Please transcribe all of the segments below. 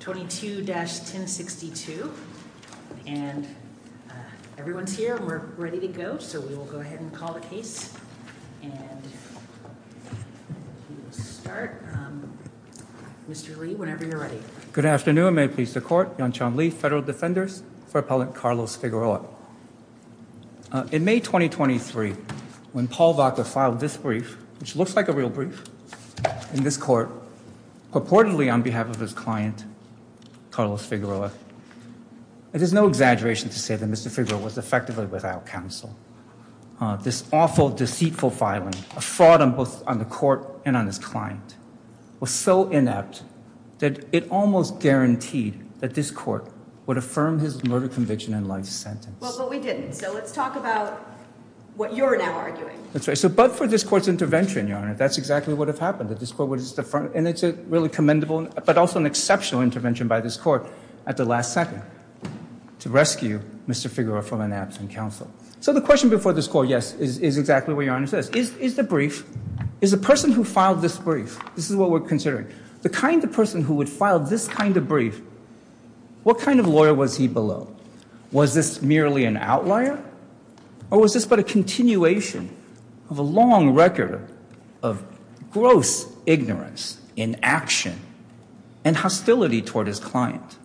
22-1062. And everyone's here and we're ready to go. So we will go ahead and call the case and we will start. Mr. Lee, whenever you're ready. Good afternoon. May it please the court. Yongchun Lee, federal defenders for appellant Carlos Figueroa. In May 2023, when Paul Vaca filed this brief, which looks like a real brief in this court, purportedly on behalf of his client, Carlos Figueroa. It is no exaggeration to say that Mr. Figueroa was effectively without counsel. This awful, deceitful filing, a fraud on both on the court and on his client, was so inept that it almost guaranteed that this court would affirm his murder conviction and life sentence. Well, but we didn't. So let's talk about what you're now arguing. That's right. So but for this court's intervention, Your Honor, that's exactly what has happened. And it's a really commendable, but also an exceptional intervention by this court at the last second to rescue Mr. Figueroa from an absent counsel. So the question before this court, yes, is exactly what Your Honor says. Is the brief, is the person who filed this brief, this is what we're considering. The kind of person who would file this kind of brief, what kind of lawyer was he below? Was this merely an outlier or was this but a continuation of a long record of gross ignorance in action and hostility toward his client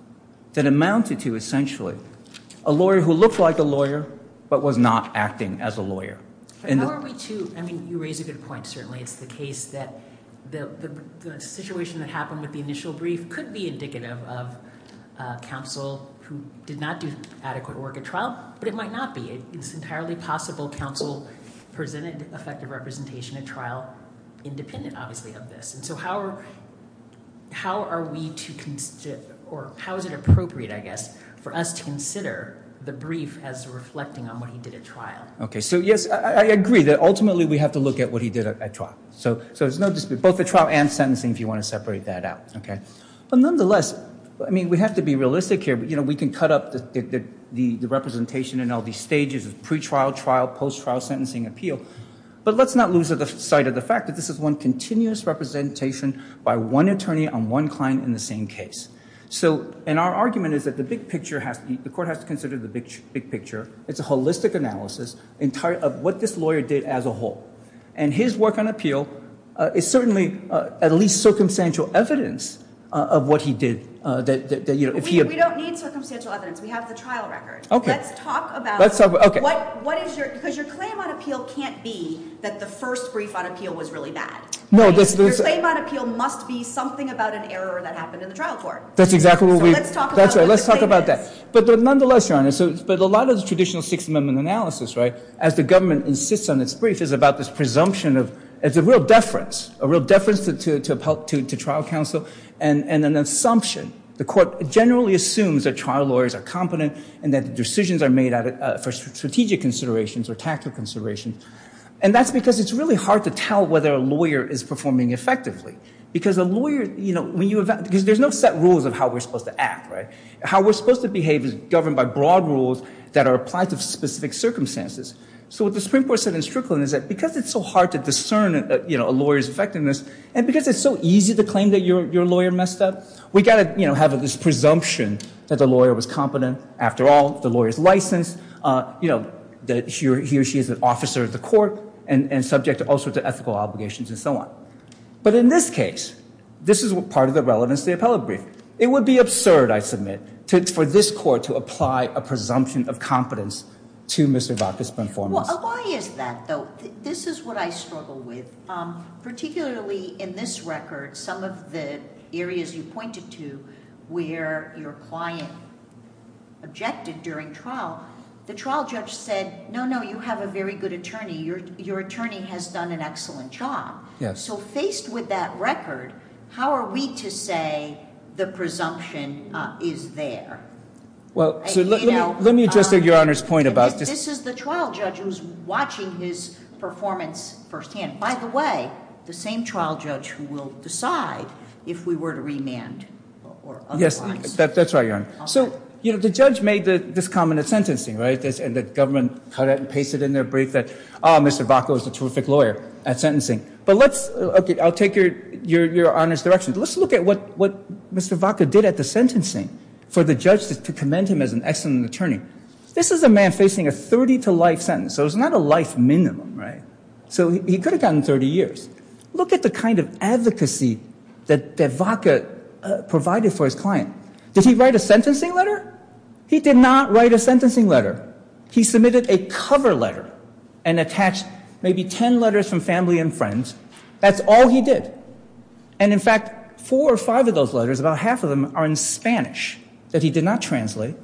that amounted to essentially a lawyer who looked like a lawyer but was not acting as a lawyer? How are we to, I mean, you raise a good point, certainly. It's the case that the situation that happened with the initial brief could be indicative of counsel who did not do adequate work at trial, but it might not be. It's entirely possible counsel presented effective representation at trial independent, obviously, of this. And so how are we to, or how is it appropriate, I guess, for us to consider the brief as reflecting on what he did at trial? Okay, so yes, I agree that ultimately we have to look at what he did at trial. So there's no dispute, both the trial and sentencing if you want to separate that out. But nonetheless, I mean, we have to be realistic here, but we can cut up the representation in all these stages of pre-trial, trial, post-trial sentencing appeal. But let's not lose sight of the fact that this is one continuous representation by one attorney on one client in the same case. And our argument is that the big picture has to be, the court has to consider the big picture. It's a holistic analysis of what this lawyer did as a whole. And his work on appeal is certainly at least circumstantial evidence of what he did. We don't need circumstantial evidence. We have the trial record. Let's talk about what is your, because your claim on appeal can't be that the first brief on appeal was really bad. Your claim on appeal must be something about an error that happened in the trial court. That's exactly what we. So let's talk about what the claim is. That's right, let's talk about that. But nonetheless, Your Honor, but a lot of the traditional Sixth Amendment analysis, right, as the government insists on its brief, is about this presumption of, it's a real deference, a real deference to trial counsel and an assumption. The court generally assumes that trial lawyers are competent and that decisions are made for strategic considerations or tactical considerations. And that's because it's really hard to tell whether a lawyer is performing effectively. Because a lawyer, you know, when you, because there's no set rules of how we're supposed to act, right? How we're supposed to behave is governed by broad rules that are applied to specific circumstances. So what the Supreme Court said in Strickland is that because it's so hard to discern, you know, a lawyer's effectiveness, and because it's so easy to claim that your lawyer messed up, we've got to, you know, have this presumption that the lawyer was competent. After all, the lawyer's licensed. You know, he or she is an officer of the court and subject to all sorts of ethical obligations and so on. But in this case, this is part of the relevance of the appellate brief. It would be absurd, I submit, for this court to apply a presumption of competence to Mr. Vakas' performance. Why is that, though? This is what I struggle with. Particularly in this record, some of the areas you pointed to where your client objected during trial, the trial judge said, no, no, you have a very good attorney. Your attorney has done an excellent job. Yes. So faced with that record, how are we to say the presumption is there? Well, let me address your Honor's point about this. This is the trial judge who's watching his performance firsthand. By the way, the same trial judge who will decide if we were to remand or otherwise. Yes, that's right, Your Honor. So, you know, the judge made this comment at sentencing, right, and the government cut it and pasted it in their brief that, oh, Mr. Vakas was a terrific lawyer at sentencing. But let's, okay, I'll take your Honor's direction. Let's look at what Mr. Vakas did at the sentencing for the judge to commend him as an excellent attorney. This is a man facing a 30-to-life sentence. So it's not a life minimum, right? So he could have gotten 30 years. Look at the kind of advocacy that Vakas provided for his client. Did he write a sentencing letter? He did not write a sentencing letter. He submitted a cover letter and attached maybe 10 letters from family and friends. That's all he did. And, in fact, four or five of those letters, about half of them, are in Spanish that he did not translate.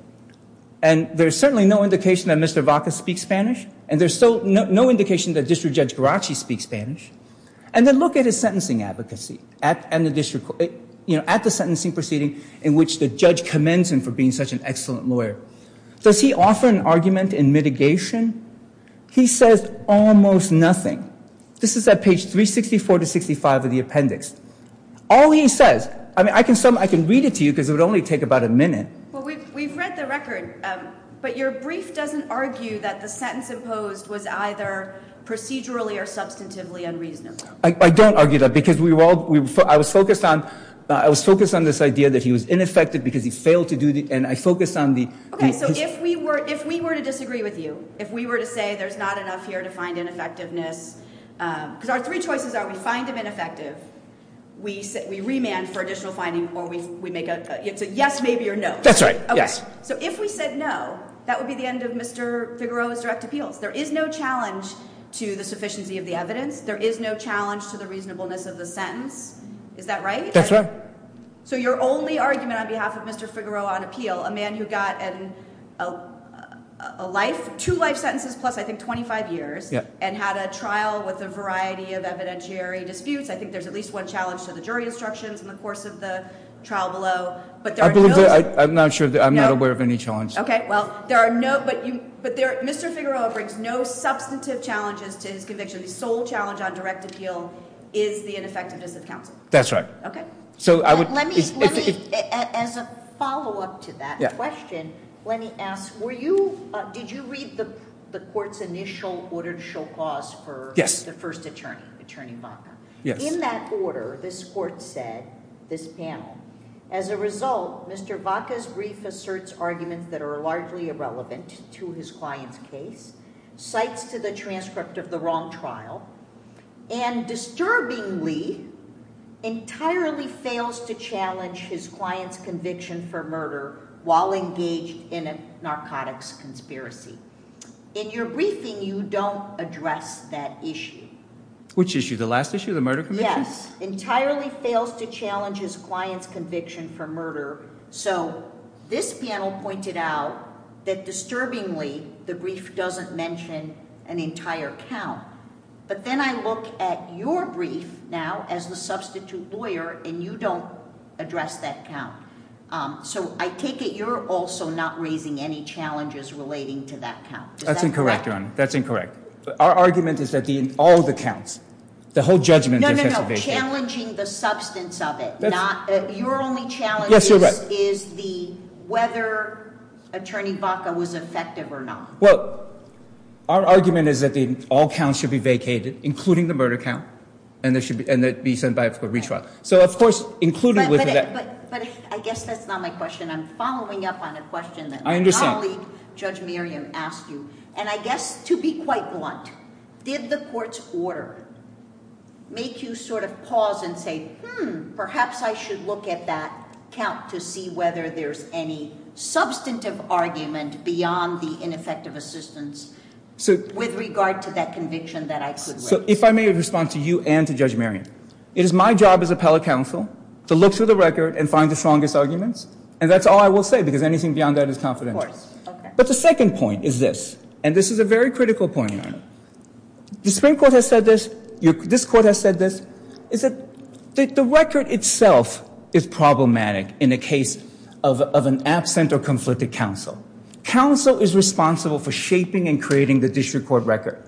And there's certainly no indication that Mr. Vakas speaks Spanish, and there's still no indication that District Judge Garacci speaks Spanish. And then look at his sentencing advocacy at the sentencing proceeding in which the judge commends him for being such an excellent lawyer. Does he offer an argument in mitigation? He says almost nothing. This is at page 364 to 365 of the appendix. All he says, I mean, I can read it to you because it would only take about a minute. Well, we've read the record, but your brief doesn't argue that the sentence imposed was either procedurally or substantively unreasonable. I don't argue that because I was focused on this idea that he was ineffective because he failed to do the ‑‑ Okay, so if we were to disagree with you, if we were to say there's not enough here to find ineffectiveness, because our three choices are we find him ineffective, we remand for additional finding, or we make a yes, maybe, or no. That's right, yes. Okay, so if we said no, that would be the end of Mr. Figueroa's direct appeals. There is no challenge to the sufficiency of the evidence. There is no challenge to the reasonableness of the sentence. Is that right? That's right. So your only argument on behalf of Mr. Figueroa on appeal, a man who got a life, two life sentences plus I think 25 years, and had a trial with a variety of evidentiary disputes, I think there's at least one challenge to the jury instructions in the course of the trial below. I'm not sure, I'm not aware of any challenge. Okay, well, there are no, but Mr. Figueroa brings no substantive challenges to his conviction. The sole challenge on direct appeal is the ineffectiveness of counsel. That's right. Okay. Let me, as a follow up to that question, let me ask, were you, did you read the court's initial order to show cause for the first attorney, Attorney Vaca? Yes. In that order, this court said, this panel, as a result, Mr. Vaca's brief asserts arguments that are largely irrelevant to his client's case, cites to the transcript of the wrong trial, and disturbingly entirely fails to challenge his client's conviction for murder while engaged in a narcotics conspiracy. In your briefing, you don't address that issue. Which issue, the last issue, the murder conviction? Yes. Entirely fails to challenge his client's conviction for murder. So, this panel pointed out that disturbingly, the brief doesn't mention an entire count. But then I look at your brief now, as the substitute lawyer, and you don't address that count. So, I take it you're also not raising any challenges relating to that count. That's incorrect, Your Honor. That's incorrect. Our argument is that all the counts, the whole judgment. No, no, no. Challenging the substance of it. Your only challenge is the whether Attorney Vaca was effective or not. Well, our argument is that all counts should be vacated, including the murder count, and be sent back for retrial. But I guess that's not my question. I'm following up on a question that my colleague, Judge Merriam, asked you. And I guess, to be quite blunt, did the court's order make you sort of pause and say, hmm, perhaps I should look at that count to see whether there's any substantive argument beyond the ineffective assistance with regard to that conviction that I could raise. So, if I may respond to you and to Judge Merriam, it is my job as appellate counsel to look through the record and find the strongest arguments. And that's all I will say, because anything beyond that is confidential. But the second point is this, and this is a very critical point, Your Honor. The Supreme Court has said this. This court has said this. The record itself is problematic in a case of an absent or conflicted counsel. Counsel is responsible for shaping and creating the district court record.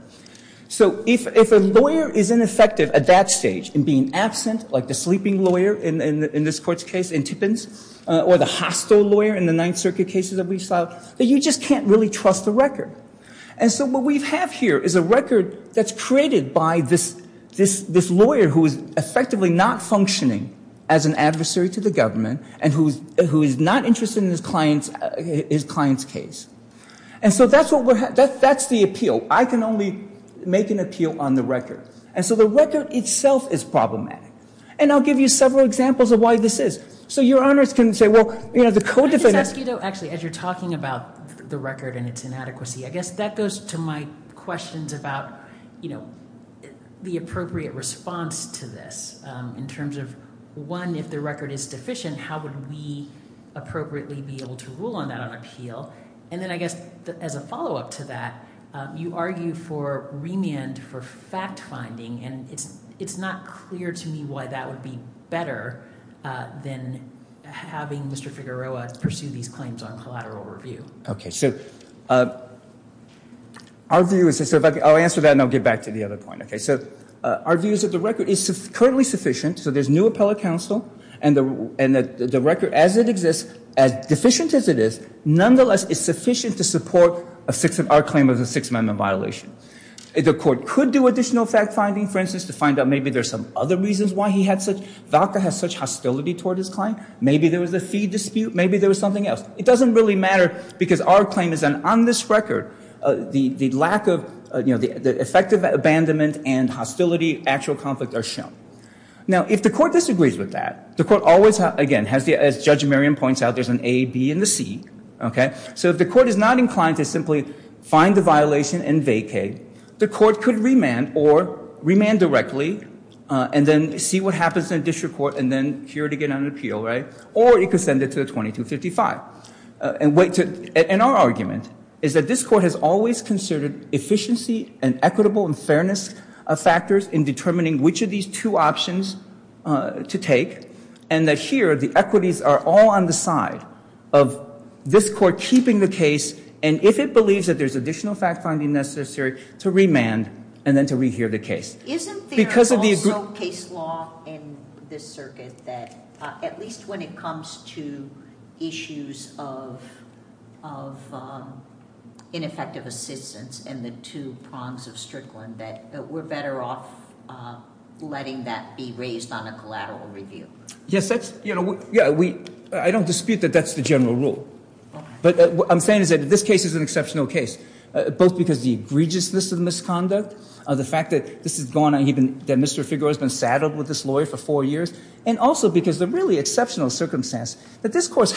So, if a lawyer is ineffective at that stage in being absent, like the sleeping lawyer in this court's case in Tippins, or the hostile lawyer in the Ninth Circuit cases that we've filed, then you just can't really trust the record. And so what we have here is a record that's created by this lawyer who is effectively not functioning as an adversary to the government and who is not interested in his client's case. And so that's the appeal. I can only make an appeal on the record. And so the record itself is problematic. And I'll give you several examples of why this is. So Your Honors can say, well, the co-defendant— I just ask you, though, actually, as you're talking about the record and its inadequacy, I guess that goes to my questions about the appropriate response to this in terms of, one, if the record is deficient, how would we appropriately be able to rule on that on appeal? And then I guess as a follow-up to that, you argue for remand for fact-finding, and it's not clear to me why that would be better than having Mr. Figueroa pursue these claims on collateral review. Okay, so our view is—I'll answer that, and I'll get back to the other point. Okay, so our view is that the record is currently sufficient, so there's new appellate counsel, and the record, as it exists, as deficient as it is, nonetheless is sufficient to support our claim of a Sixth Amendment violation. The court could do additional fact-finding, for instance, to find out maybe there's some other reasons why he had such— Valka has such hostility toward his client. Maybe there was a fee dispute. Maybe there was something else. It doesn't really matter because our claim is that on this record, the lack of—the effect of abandonment and hostility, actual conflict, are shown. Now, if the court disagrees with that, the court always, again, as Judge Merriam points out, there's an A, B, and a C. Okay, so if the court is not inclined to simply find the violation and vacate, the court could remand or remand directly and then see what happens in a district court and then hear it again on an appeal, right? Or it could send it to a 2255. And our argument is that this court has always considered efficiency and equitable and fairness factors in determining which of these two options to take, and that here the equities are all on the side of this court keeping the case, and if it believes that there's additional fact-finding necessary, to remand and then to rehear the case. Isn't there also case law in this circuit that at least when it comes to issues of ineffective assistance and the two prongs of Strickland that we're better off letting that be raised on a collateral review? Yes, that's—you know, yeah, we—I don't dispute that that's the general rule. But what I'm saying is that this case is an exceptional case, both because the egregiousness of the misconduct, the fact that this has gone on—that Mr. Figueroa has been saddled with this lawyer for four years, and also because the really exceptional circumstance that this court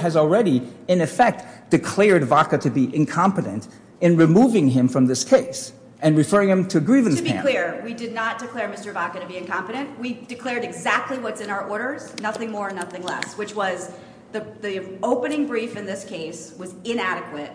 has already, in effect, declared Vaca to be incompetent in removing him from this case and referring him to a grievance panel. To be clear, we did not declare Mr. Vaca to be incompetent. We declared exactly what's in our orders, nothing more and nothing less, which was the opening brief in this case was inadequate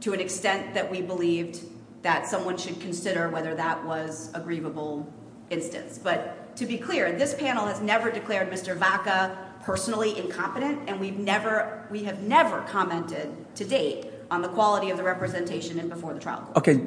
to an extent that we believed that someone should consider whether that was a grievable instance. But to be clear, this panel has never declared Mr. Vaca personally incompetent, and we've never—we have never commented to date on the quality of the representation before the trial court. Okay,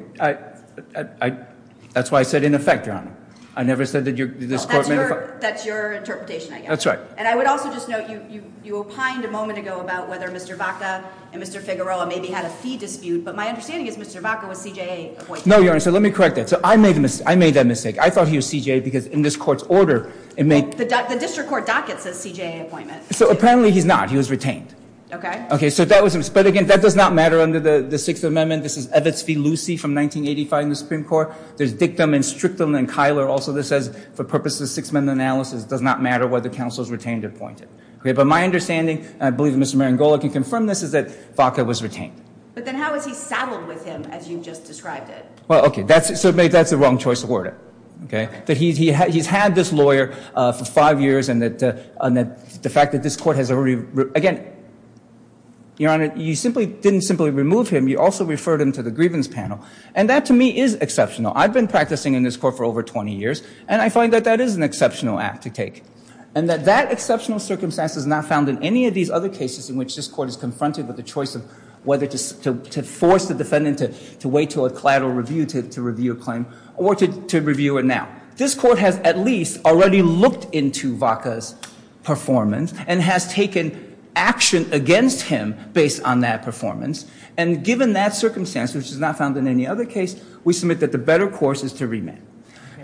I—that's why I said in effect, Your Honor. I never said that this court— That's your interpretation, I guess. That's right. And I would also just note you opined a moment ago about whether Mr. Vaca and Mr. Figueroa maybe had a fee dispute, but my understanding is Mr. Vaca was CJA appointed. No, Your Honor, so let me correct that. So I made that mistake. I thought he was CJA because in this court's order it made— The district court docket says CJA appointment. So apparently he's not. He was retained. Okay. Okay, so that was—but again, that does not matter under the Sixth Amendment. This is Evitz v. Lucey from 1985 in the Supreme Court. There's dictum and strictum and Kyler also that says for purposes of Sixth Amendment analysis, it does not matter whether counsel is retained or appointed. Okay, but my understanding, and I believe Mr. Marangolo can confirm this, is that Vaca was retained. But then how was he saddled with him, as you just described it? Well, okay, so maybe that's the wrong choice of word, okay? That he's had this lawyer for five years and that the fact that this court has already— Again, Your Honor, you simply didn't simply remove him. You also referred him to the grievance panel, and that to me is exceptional. I've been practicing in this court for over 20 years, and I find that that is an exceptional act to take, and that that exceptional circumstance is not found in any of these other cases in which this court is confronted with the choice of whether to force the defendant to wait until a collateral review to review a claim or to review it now. This court has at least already looked into Vaca's performance and has taken action against him based on that performance. And given that circumstance, which is not found in any other case, we submit that the better course is to remand.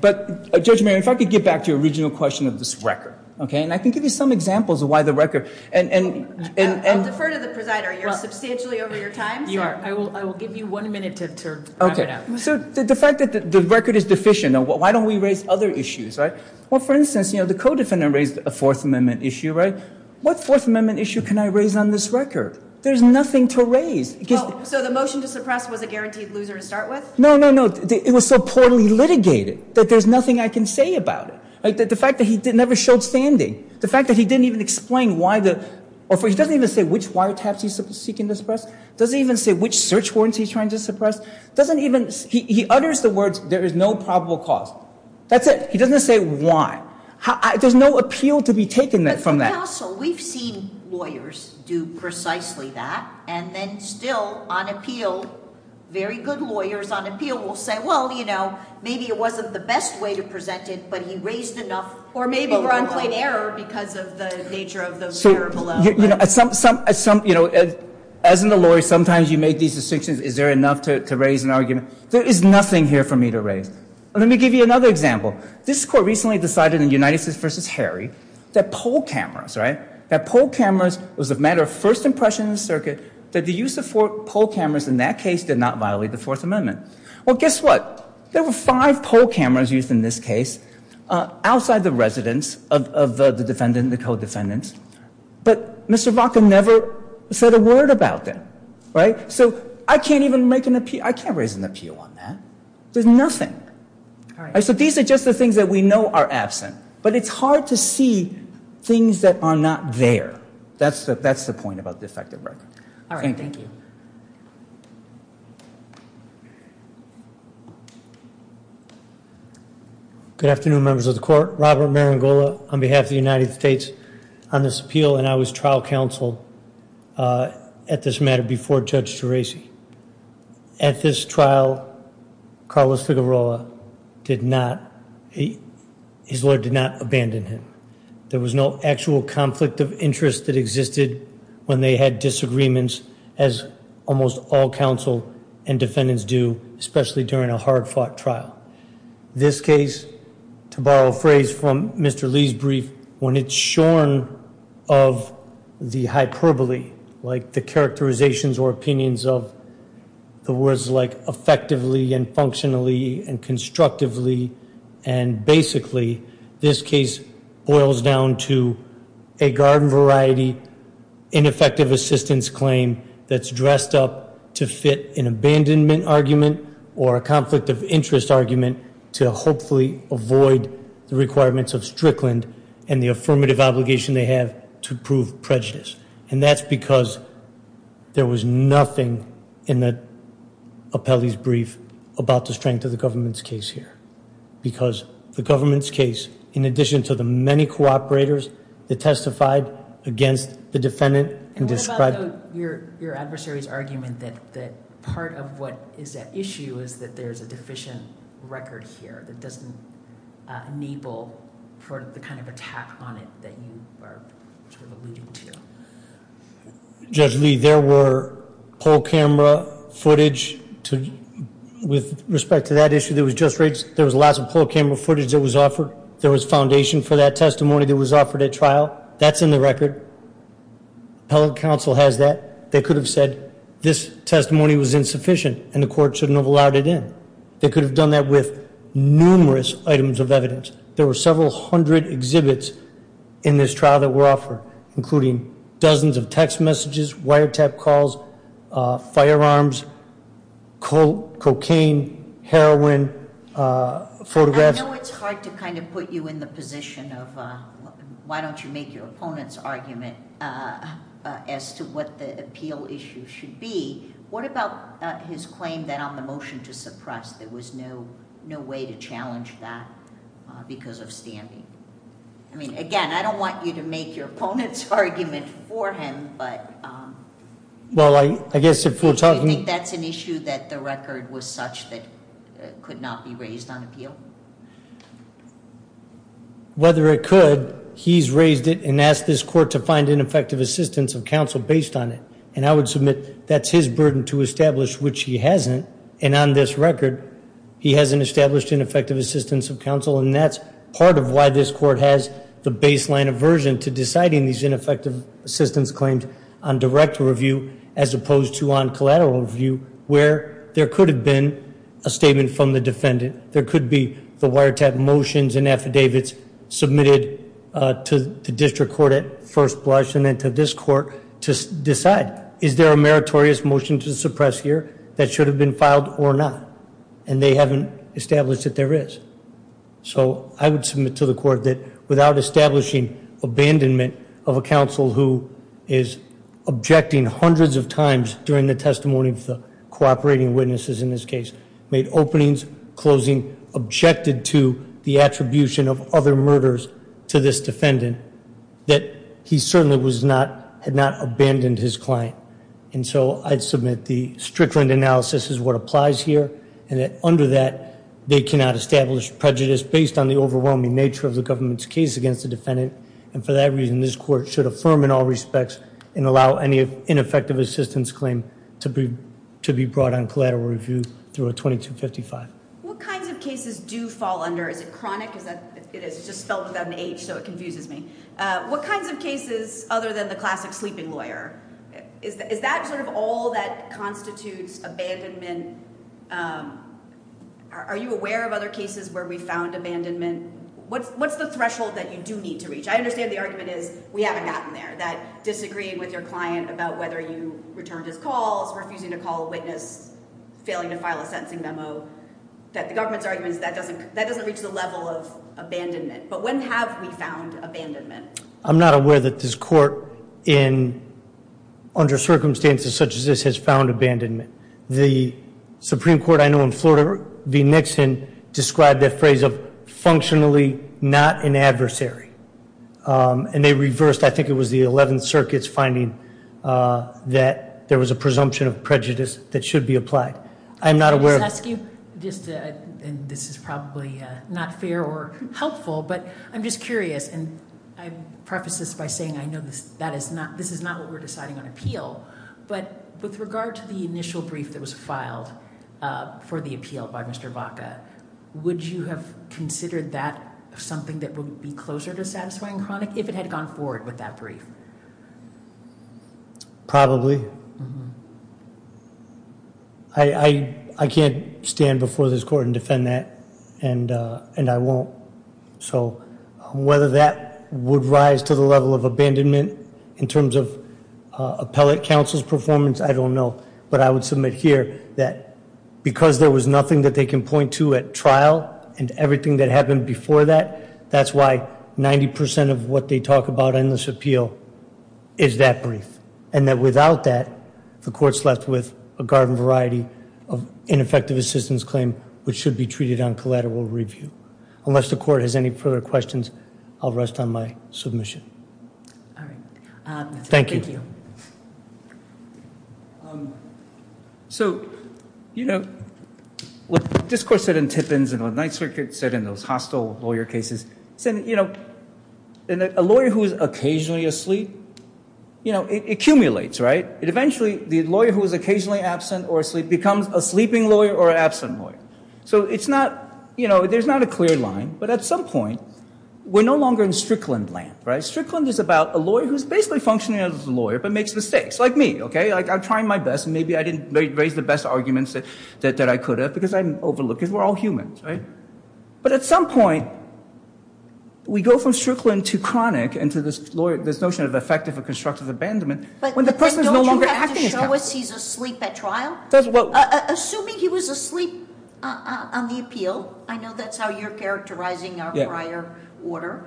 But, Judge Marangolo, if I could get back to your original question of this record, okay? And I can give you some examples of why the record— I'll defer to the presider. You're substantially over your time. I will give you one minute to wrap it up. So the fact that the record is deficient, why don't we raise other issues, right? Well, for instance, the co-defendant raised a Fourth Amendment issue, right? What Fourth Amendment issue can I raise on this record? There's nothing to raise. So the motion to suppress was a guaranteed loser to start with? No, no, no. It was so poorly litigated that there's nothing I can say about it. The fact that he never showed standing, the fact that he didn't even explain why the— Does he even say which search warrants he's trying to suppress? Doesn't even—he utters the words, there is no probable cause. That's it. He doesn't say why. There's no appeal to be taken from that. But for counsel, we've seen lawyers do precisely that, and then still, on appeal, very good lawyers on appeal will say, well, you know, maybe it wasn't the best way to present it, but he raised enough—or maybe we're on point error because of the nature of those terrible— You know, as in the law, sometimes you make these distinctions. Is there enough to raise an argument? There is nothing here for me to raise. Let me give you another example. This Court recently decided in United v. Harry that poll cameras, right, that poll cameras was a matter of first impression in the circuit, that the use of poll cameras in that case did not violate the Fourth Amendment. Well, guess what? There were five poll cameras used in this case outside the residence of the defendant, the co-defendant. But Mr. Vaca never said a word about them, right? So I can't even make an—I can't raise an appeal on that. There's nothing. So these are just the things that we know are absent. But it's hard to see things that are not there. That's the point about the defective record. Thank you. All right. Thank you. Good afternoon, members of the Court. I'm Robert Marangola on behalf of the United States on this appeal, and I was trial counsel at this matter before Judge Terasi. At this trial, Carlos Figueroa did not—his lawyer did not abandon him. There was no actual conflict of interest that existed when they had disagreements, as almost all counsel and defendants do, especially during a hard-fought trial. This case, to borrow a phrase from Mr. Lee's brief, when it's shorn of the hyperbole, like the characterizations or opinions of the words like effectively and functionally and constructively and basically, this case boils down to a garden-variety, ineffective assistance claim that's dressed up to fit an abandonment argument or a conflict of interest argument to hopefully avoid the requirements of Strickland and the affirmative obligation they have to prove prejudice. And that's because there was nothing in the appellee's brief about the strength of the government's case here because the government's case, in addition to the many cooperators that testified against the defendant— What about your adversary's argument that part of what is at issue is that there's a deficient record here that doesn't enable for the kind of attack on it that you are sort of alluding to? Judge Lee, there were poll camera footage with respect to that issue that was just raised. There was lots of poll camera footage that was offered. There was foundation for that testimony that was offered at trial. That's in the record. Appellate counsel has that. They could have said this testimony was insufficient and the court shouldn't have allowed it in. They could have done that with numerous items of evidence. There were several hundred exhibits in this trial that were offered, including dozens of text messages, wiretap calls, firearms, cocaine, heroin, photographs. I know it's hard to kind of put you in the position of why don't you make your opponent's argument as to what the appeal issue should be. What about his claim that on the motion to suppress there was no way to challenge that because of standing? I mean, again, I don't want you to make your opponent's argument for him, but— Well, I guess if we're talking— Do you think that's an issue that the record was such that it could not be raised on appeal? Whether it could, he's raised it and asked this court to find ineffective assistance of counsel based on it, and I would submit that's his burden to establish, which he hasn't. And on this record, he hasn't established ineffective assistance of counsel, and that's part of why this court has the baseline aversion to deciding these ineffective assistance claims on direct review as opposed to on collateral review where there could have been a statement from the defendant. There could be the wiretap motions and affidavits submitted to the district court at first blush and then to this court to decide is there a meritorious motion to suppress here that should have been filed or not, and they haven't established that there is. So I would submit to the court that without establishing abandonment of a counsel who is objecting hundreds of times during the testimony of the cooperating witnesses in this case, made openings, closing, objected to the attribution of other murders to this defendant, that he certainly had not abandoned his client. And so I'd submit the Strickland analysis is what applies here, and that under that they cannot establish prejudice based on the overwhelming nature of the government's case against the defendant. And for that reason, this court should affirm in all respects and allow any ineffective assistance claim to be brought on collateral review through a 2255. What kinds of cases do fall under? Is it chronic? It is just spelled with an H, so it confuses me. What kinds of cases other than the classic sleeping lawyer? Is that sort of all that constitutes abandonment? Are you aware of other cases where we found abandonment? What's the threshold that you do need to reach? I understand the argument is we haven't gotten there, that disagreeing with your client about whether you returned his calls, refusing to call a witness, failing to file a sentencing memo, that the government's argument is that doesn't reach the level of abandonment. But when have we found abandonment? I'm not aware that this court, under circumstances such as this, has found abandonment. The Supreme Court I know in Florida v. Nixon described that phrase of functionally not an adversary. And they reversed, I think it was the 11th Circuit's finding, that there was a presumption of prejudice that should be applied. I'm not aware of- And this is probably not fair or helpful, but I'm just curious, and I preface this by saying I know this is not what we're deciding on appeal, but with regard to the initial brief that was filed for the appeal by Mr. Baca, would you have considered that something that would be closer to satisfying chronic if it had gone forward with that brief? Probably. I can't stand before this court and defend that, and I won't. So whether that would rise to the level of abandonment in terms of appellate counsel's performance, I don't know. But I would submit here that because there was nothing that they can point to at trial and everything that happened before that, that's why 90% of what they talk about in this appeal is that brief. And that without that, the court's left with a garden variety of ineffective assistance claim, which should be treated on collateral review. Unless the court has any further questions, I'll rest on my submission. All right. Thank you. So, you know, what this court said in Tippins and what the Ninth Circuit said in those hostile lawyer cases, it said, you know, a lawyer who is occasionally asleep, you know, it accumulates, right? Eventually, the lawyer who is occasionally absent or asleep becomes a sleeping lawyer or an absent lawyer. So it's not, you know, there's not a clear line. But at some point, we're no longer in Strickland land, right? Strickland is about a lawyer who's basically functioning as a lawyer but makes mistakes, like me, okay? Like, I'm trying my best, and maybe I didn't raise the best arguments that I could have because I'm overlooked. We're all humans, right? But at some point, we go from Strickland to chronic and to this notion of effective and constructive abandonment. But don't you have to show us he's asleep at trial? Assuming he was asleep on the appeal, I know that's how you're characterizing our prior order.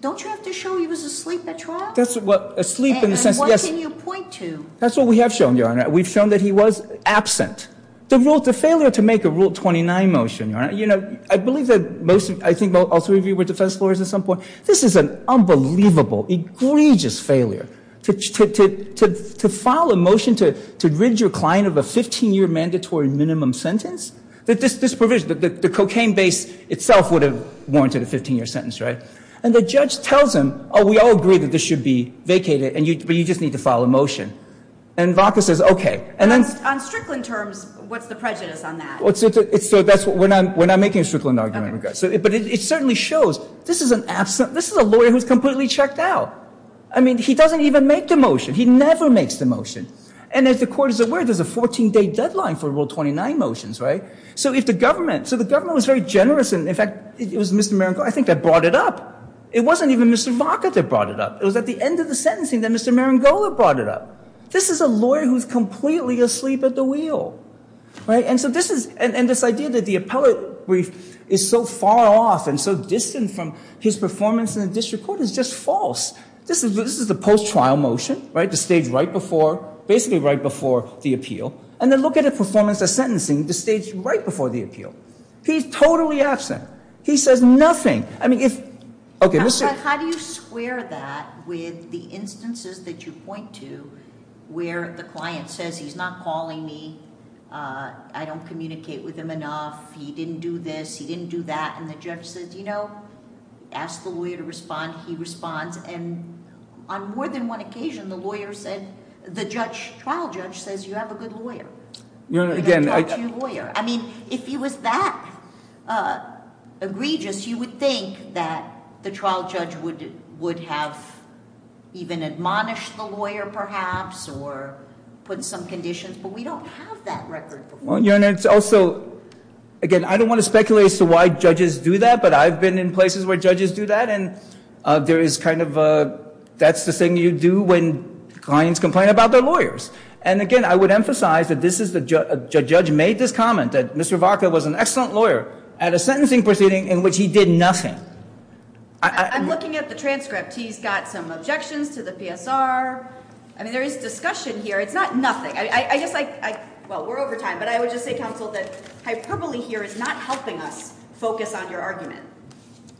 Don't you have to show he was asleep at trial? That's what asleep in the sense, yes. And what can you point to? That's what we have shown, Your Honor. We've shown that he was absent. The rule, the failure to make a Rule 29 motion, Your Honor, you know, I believe that most of, I think, all three of you were defense lawyers at some point. This is an unbelievable, egregious failure to file a motion to rid your client of a 15-year mandatory minimum sentence. This provision, the cocaine base itself would have warranted a 15-year sentence, right? And the judge tells him, oh, we all agree that this should be vacated, but you just need to file a motion. And Vaca says, okay. On Strickland terms, what's the prejudice on that? We're not making a Strickland argument. But it certainly shows this is an absent, this is a lawyer who's completely checked out. I mean, he doesn't even make the motion. He never makes the motion. And as the Court is aware, there's a 14-day deadline for Rule 29 motions, right? So if the government, so the government was very generous, and, in fact, it was Mr. Marangola, I think, that brought it up. It wasn't even Mr. Vaca that brought it up. It was at the end of the sentencing that Mr. Marangola brought it up. This is a lawyer who's completely asleep at the wheel, right? And so this is, and this idea that the appellate brief is so far off and so distant from his performance in the district court is just false. This is the post-trial motion, right, the stage right before, basically right before the appeal. And then look at the performance of sentencing, the stage right before the appeal. He's totally absent. He says nothing. How do you square that with the instances that you point to where the client says he's not calling me, I don't communicate with him enough, he didn't do this, he didn't do that, and the judge says, you know, ask the lawyer to respond, he responds. And on more than one occasion, the lawyer said, the trial judge says you have a good lawyer. I mean, if he was that egregious, you would think that the trial judge would have even admonished the lawyer, perhaps, or put some conditions, but we don't have that record. Your Honor, it's also, again, I don't want to speculate as to why judges do that, but I've been in places where judges do that, and there is kind of a, that's the thing you do when clients complain about their lawyers. And again, I would emphasize that this is, a judge made this comment that Mr. Varka was an excellent lawyer at a sentencing proceeding in which he did nothing. I'm looking at the transcript. He's got some objections to the PSR. I mean, there is discussion here. It's not nothing. I guess I, well, we're over time, but I would just say, counsel, that hyperbole here is not helping us focus on your argument.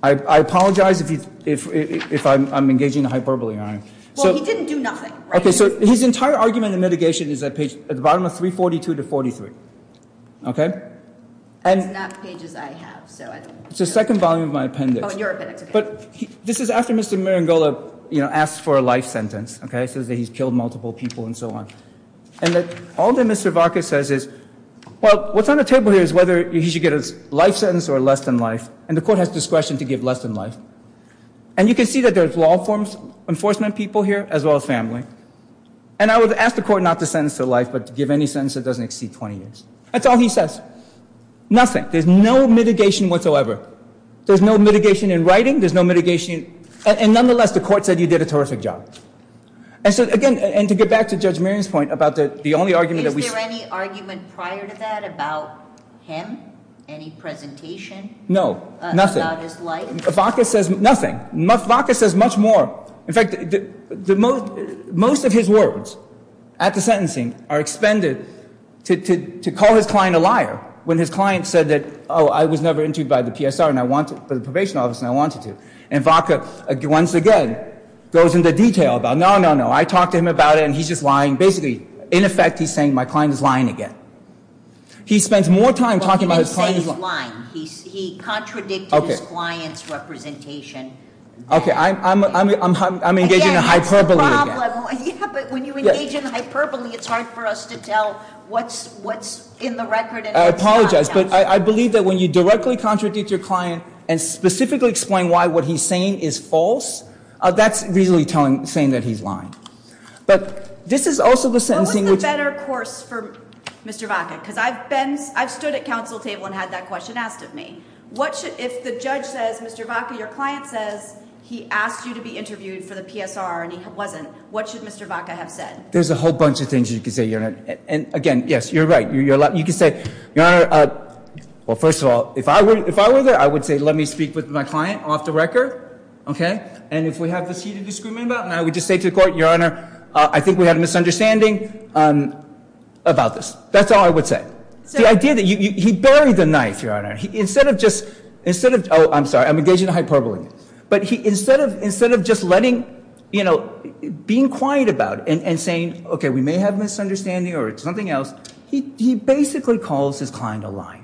I apologize if I'm engaging in hyperbole, Your Honor. Well, he didn't do nothing. Okay, so his entire argument in mitigation is at page, at the bottom of 342 to 43, okay? That's not pages I have, so I don't know. It's the second volume of my appendix. Oh, your appendix, okay. But this is after Mr. Maringola, you know, asked for a life sentence, okay, says that he's killed multiple people and so on. And that all that Mr. Varka says is, well, what's on the table here is whether he should get a life sentence or less than life, and the court has discretion to give less than life. And you can see that there's law enforcement people here, as well as family. And I would ask the court not to sentence to life, but to give any sentence that doesn't exceed 20 years. That's all he says. Nothing. There's no mitigation whatsoever. There's no mitigation in writing. There's no mitigation in, and nonetheless, the court said you did a terrific job. And so, again, and to get back to Judge Maring's point about the only argument that we see. Is there any argument prior to that about him? Any presentation? No, nothing. Varka says nothing. Varka says much more. In fact, most of his words at the sentencing are expended to call his client a liar. When his client said that, oh, I was never interviewed by the PSR, the probation office, and I wanted to. And Varka, once again, goes into detail about, no, no, no, I talked to him about it and he's just lying. Basically, in effect, he's saying my client is lying again. He spends more time talking about his client. He's lying. He contradicted his client's representation. I'm engaging in a hyperbole again. Yeah, but when you engage in a hyperbole, it's hard for us to tell what's in the record and what's not. I apologize, but I believe that when you directly contradict your client and specifically explain why what he's saying is false, that's really saying that he's lying. But this is also the sentencing which. Mr. Varka, because I've stood at counsel table and had that question asked of me. If the judge says, Mr. Varka, your client says he asked you to be interviewed for the PSR and he wasn't, what should Mr. Varka have said? There's a whole bunch of things you can say, Your Honor. And again, yes, you're right. You can say, Your Honor, well, first of all, if I were there, I would say, let me speak with my client off the record. And if we have this heated disagreement about it, I would just say to the court, Your Honor, I think we have a misunderstanding about this. That's all I would say. The idea that he buried the knife, Your Honor. Instead of just, oh, I'm sorry, I'm engaging in a hyperbole. But instead of just letting, you know, being quiet about it and saying, okay, we may have a misunderstanding or something else, he basically calls his client a liar.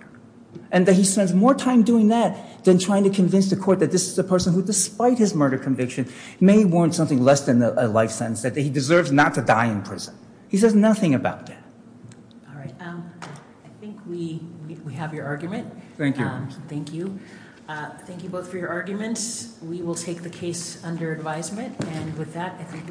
And that he spends more time doing that than trying to convince the court that this is a person who, despite his murder conviction, may warrant something less than a life sentence. That he deserves not to die in prison. He says nothing about that. All right. I think we have your argument. Thank you. Thank you. Thank you both for your arguments. We will take the case under advisement. And with that, I think we are adjourned.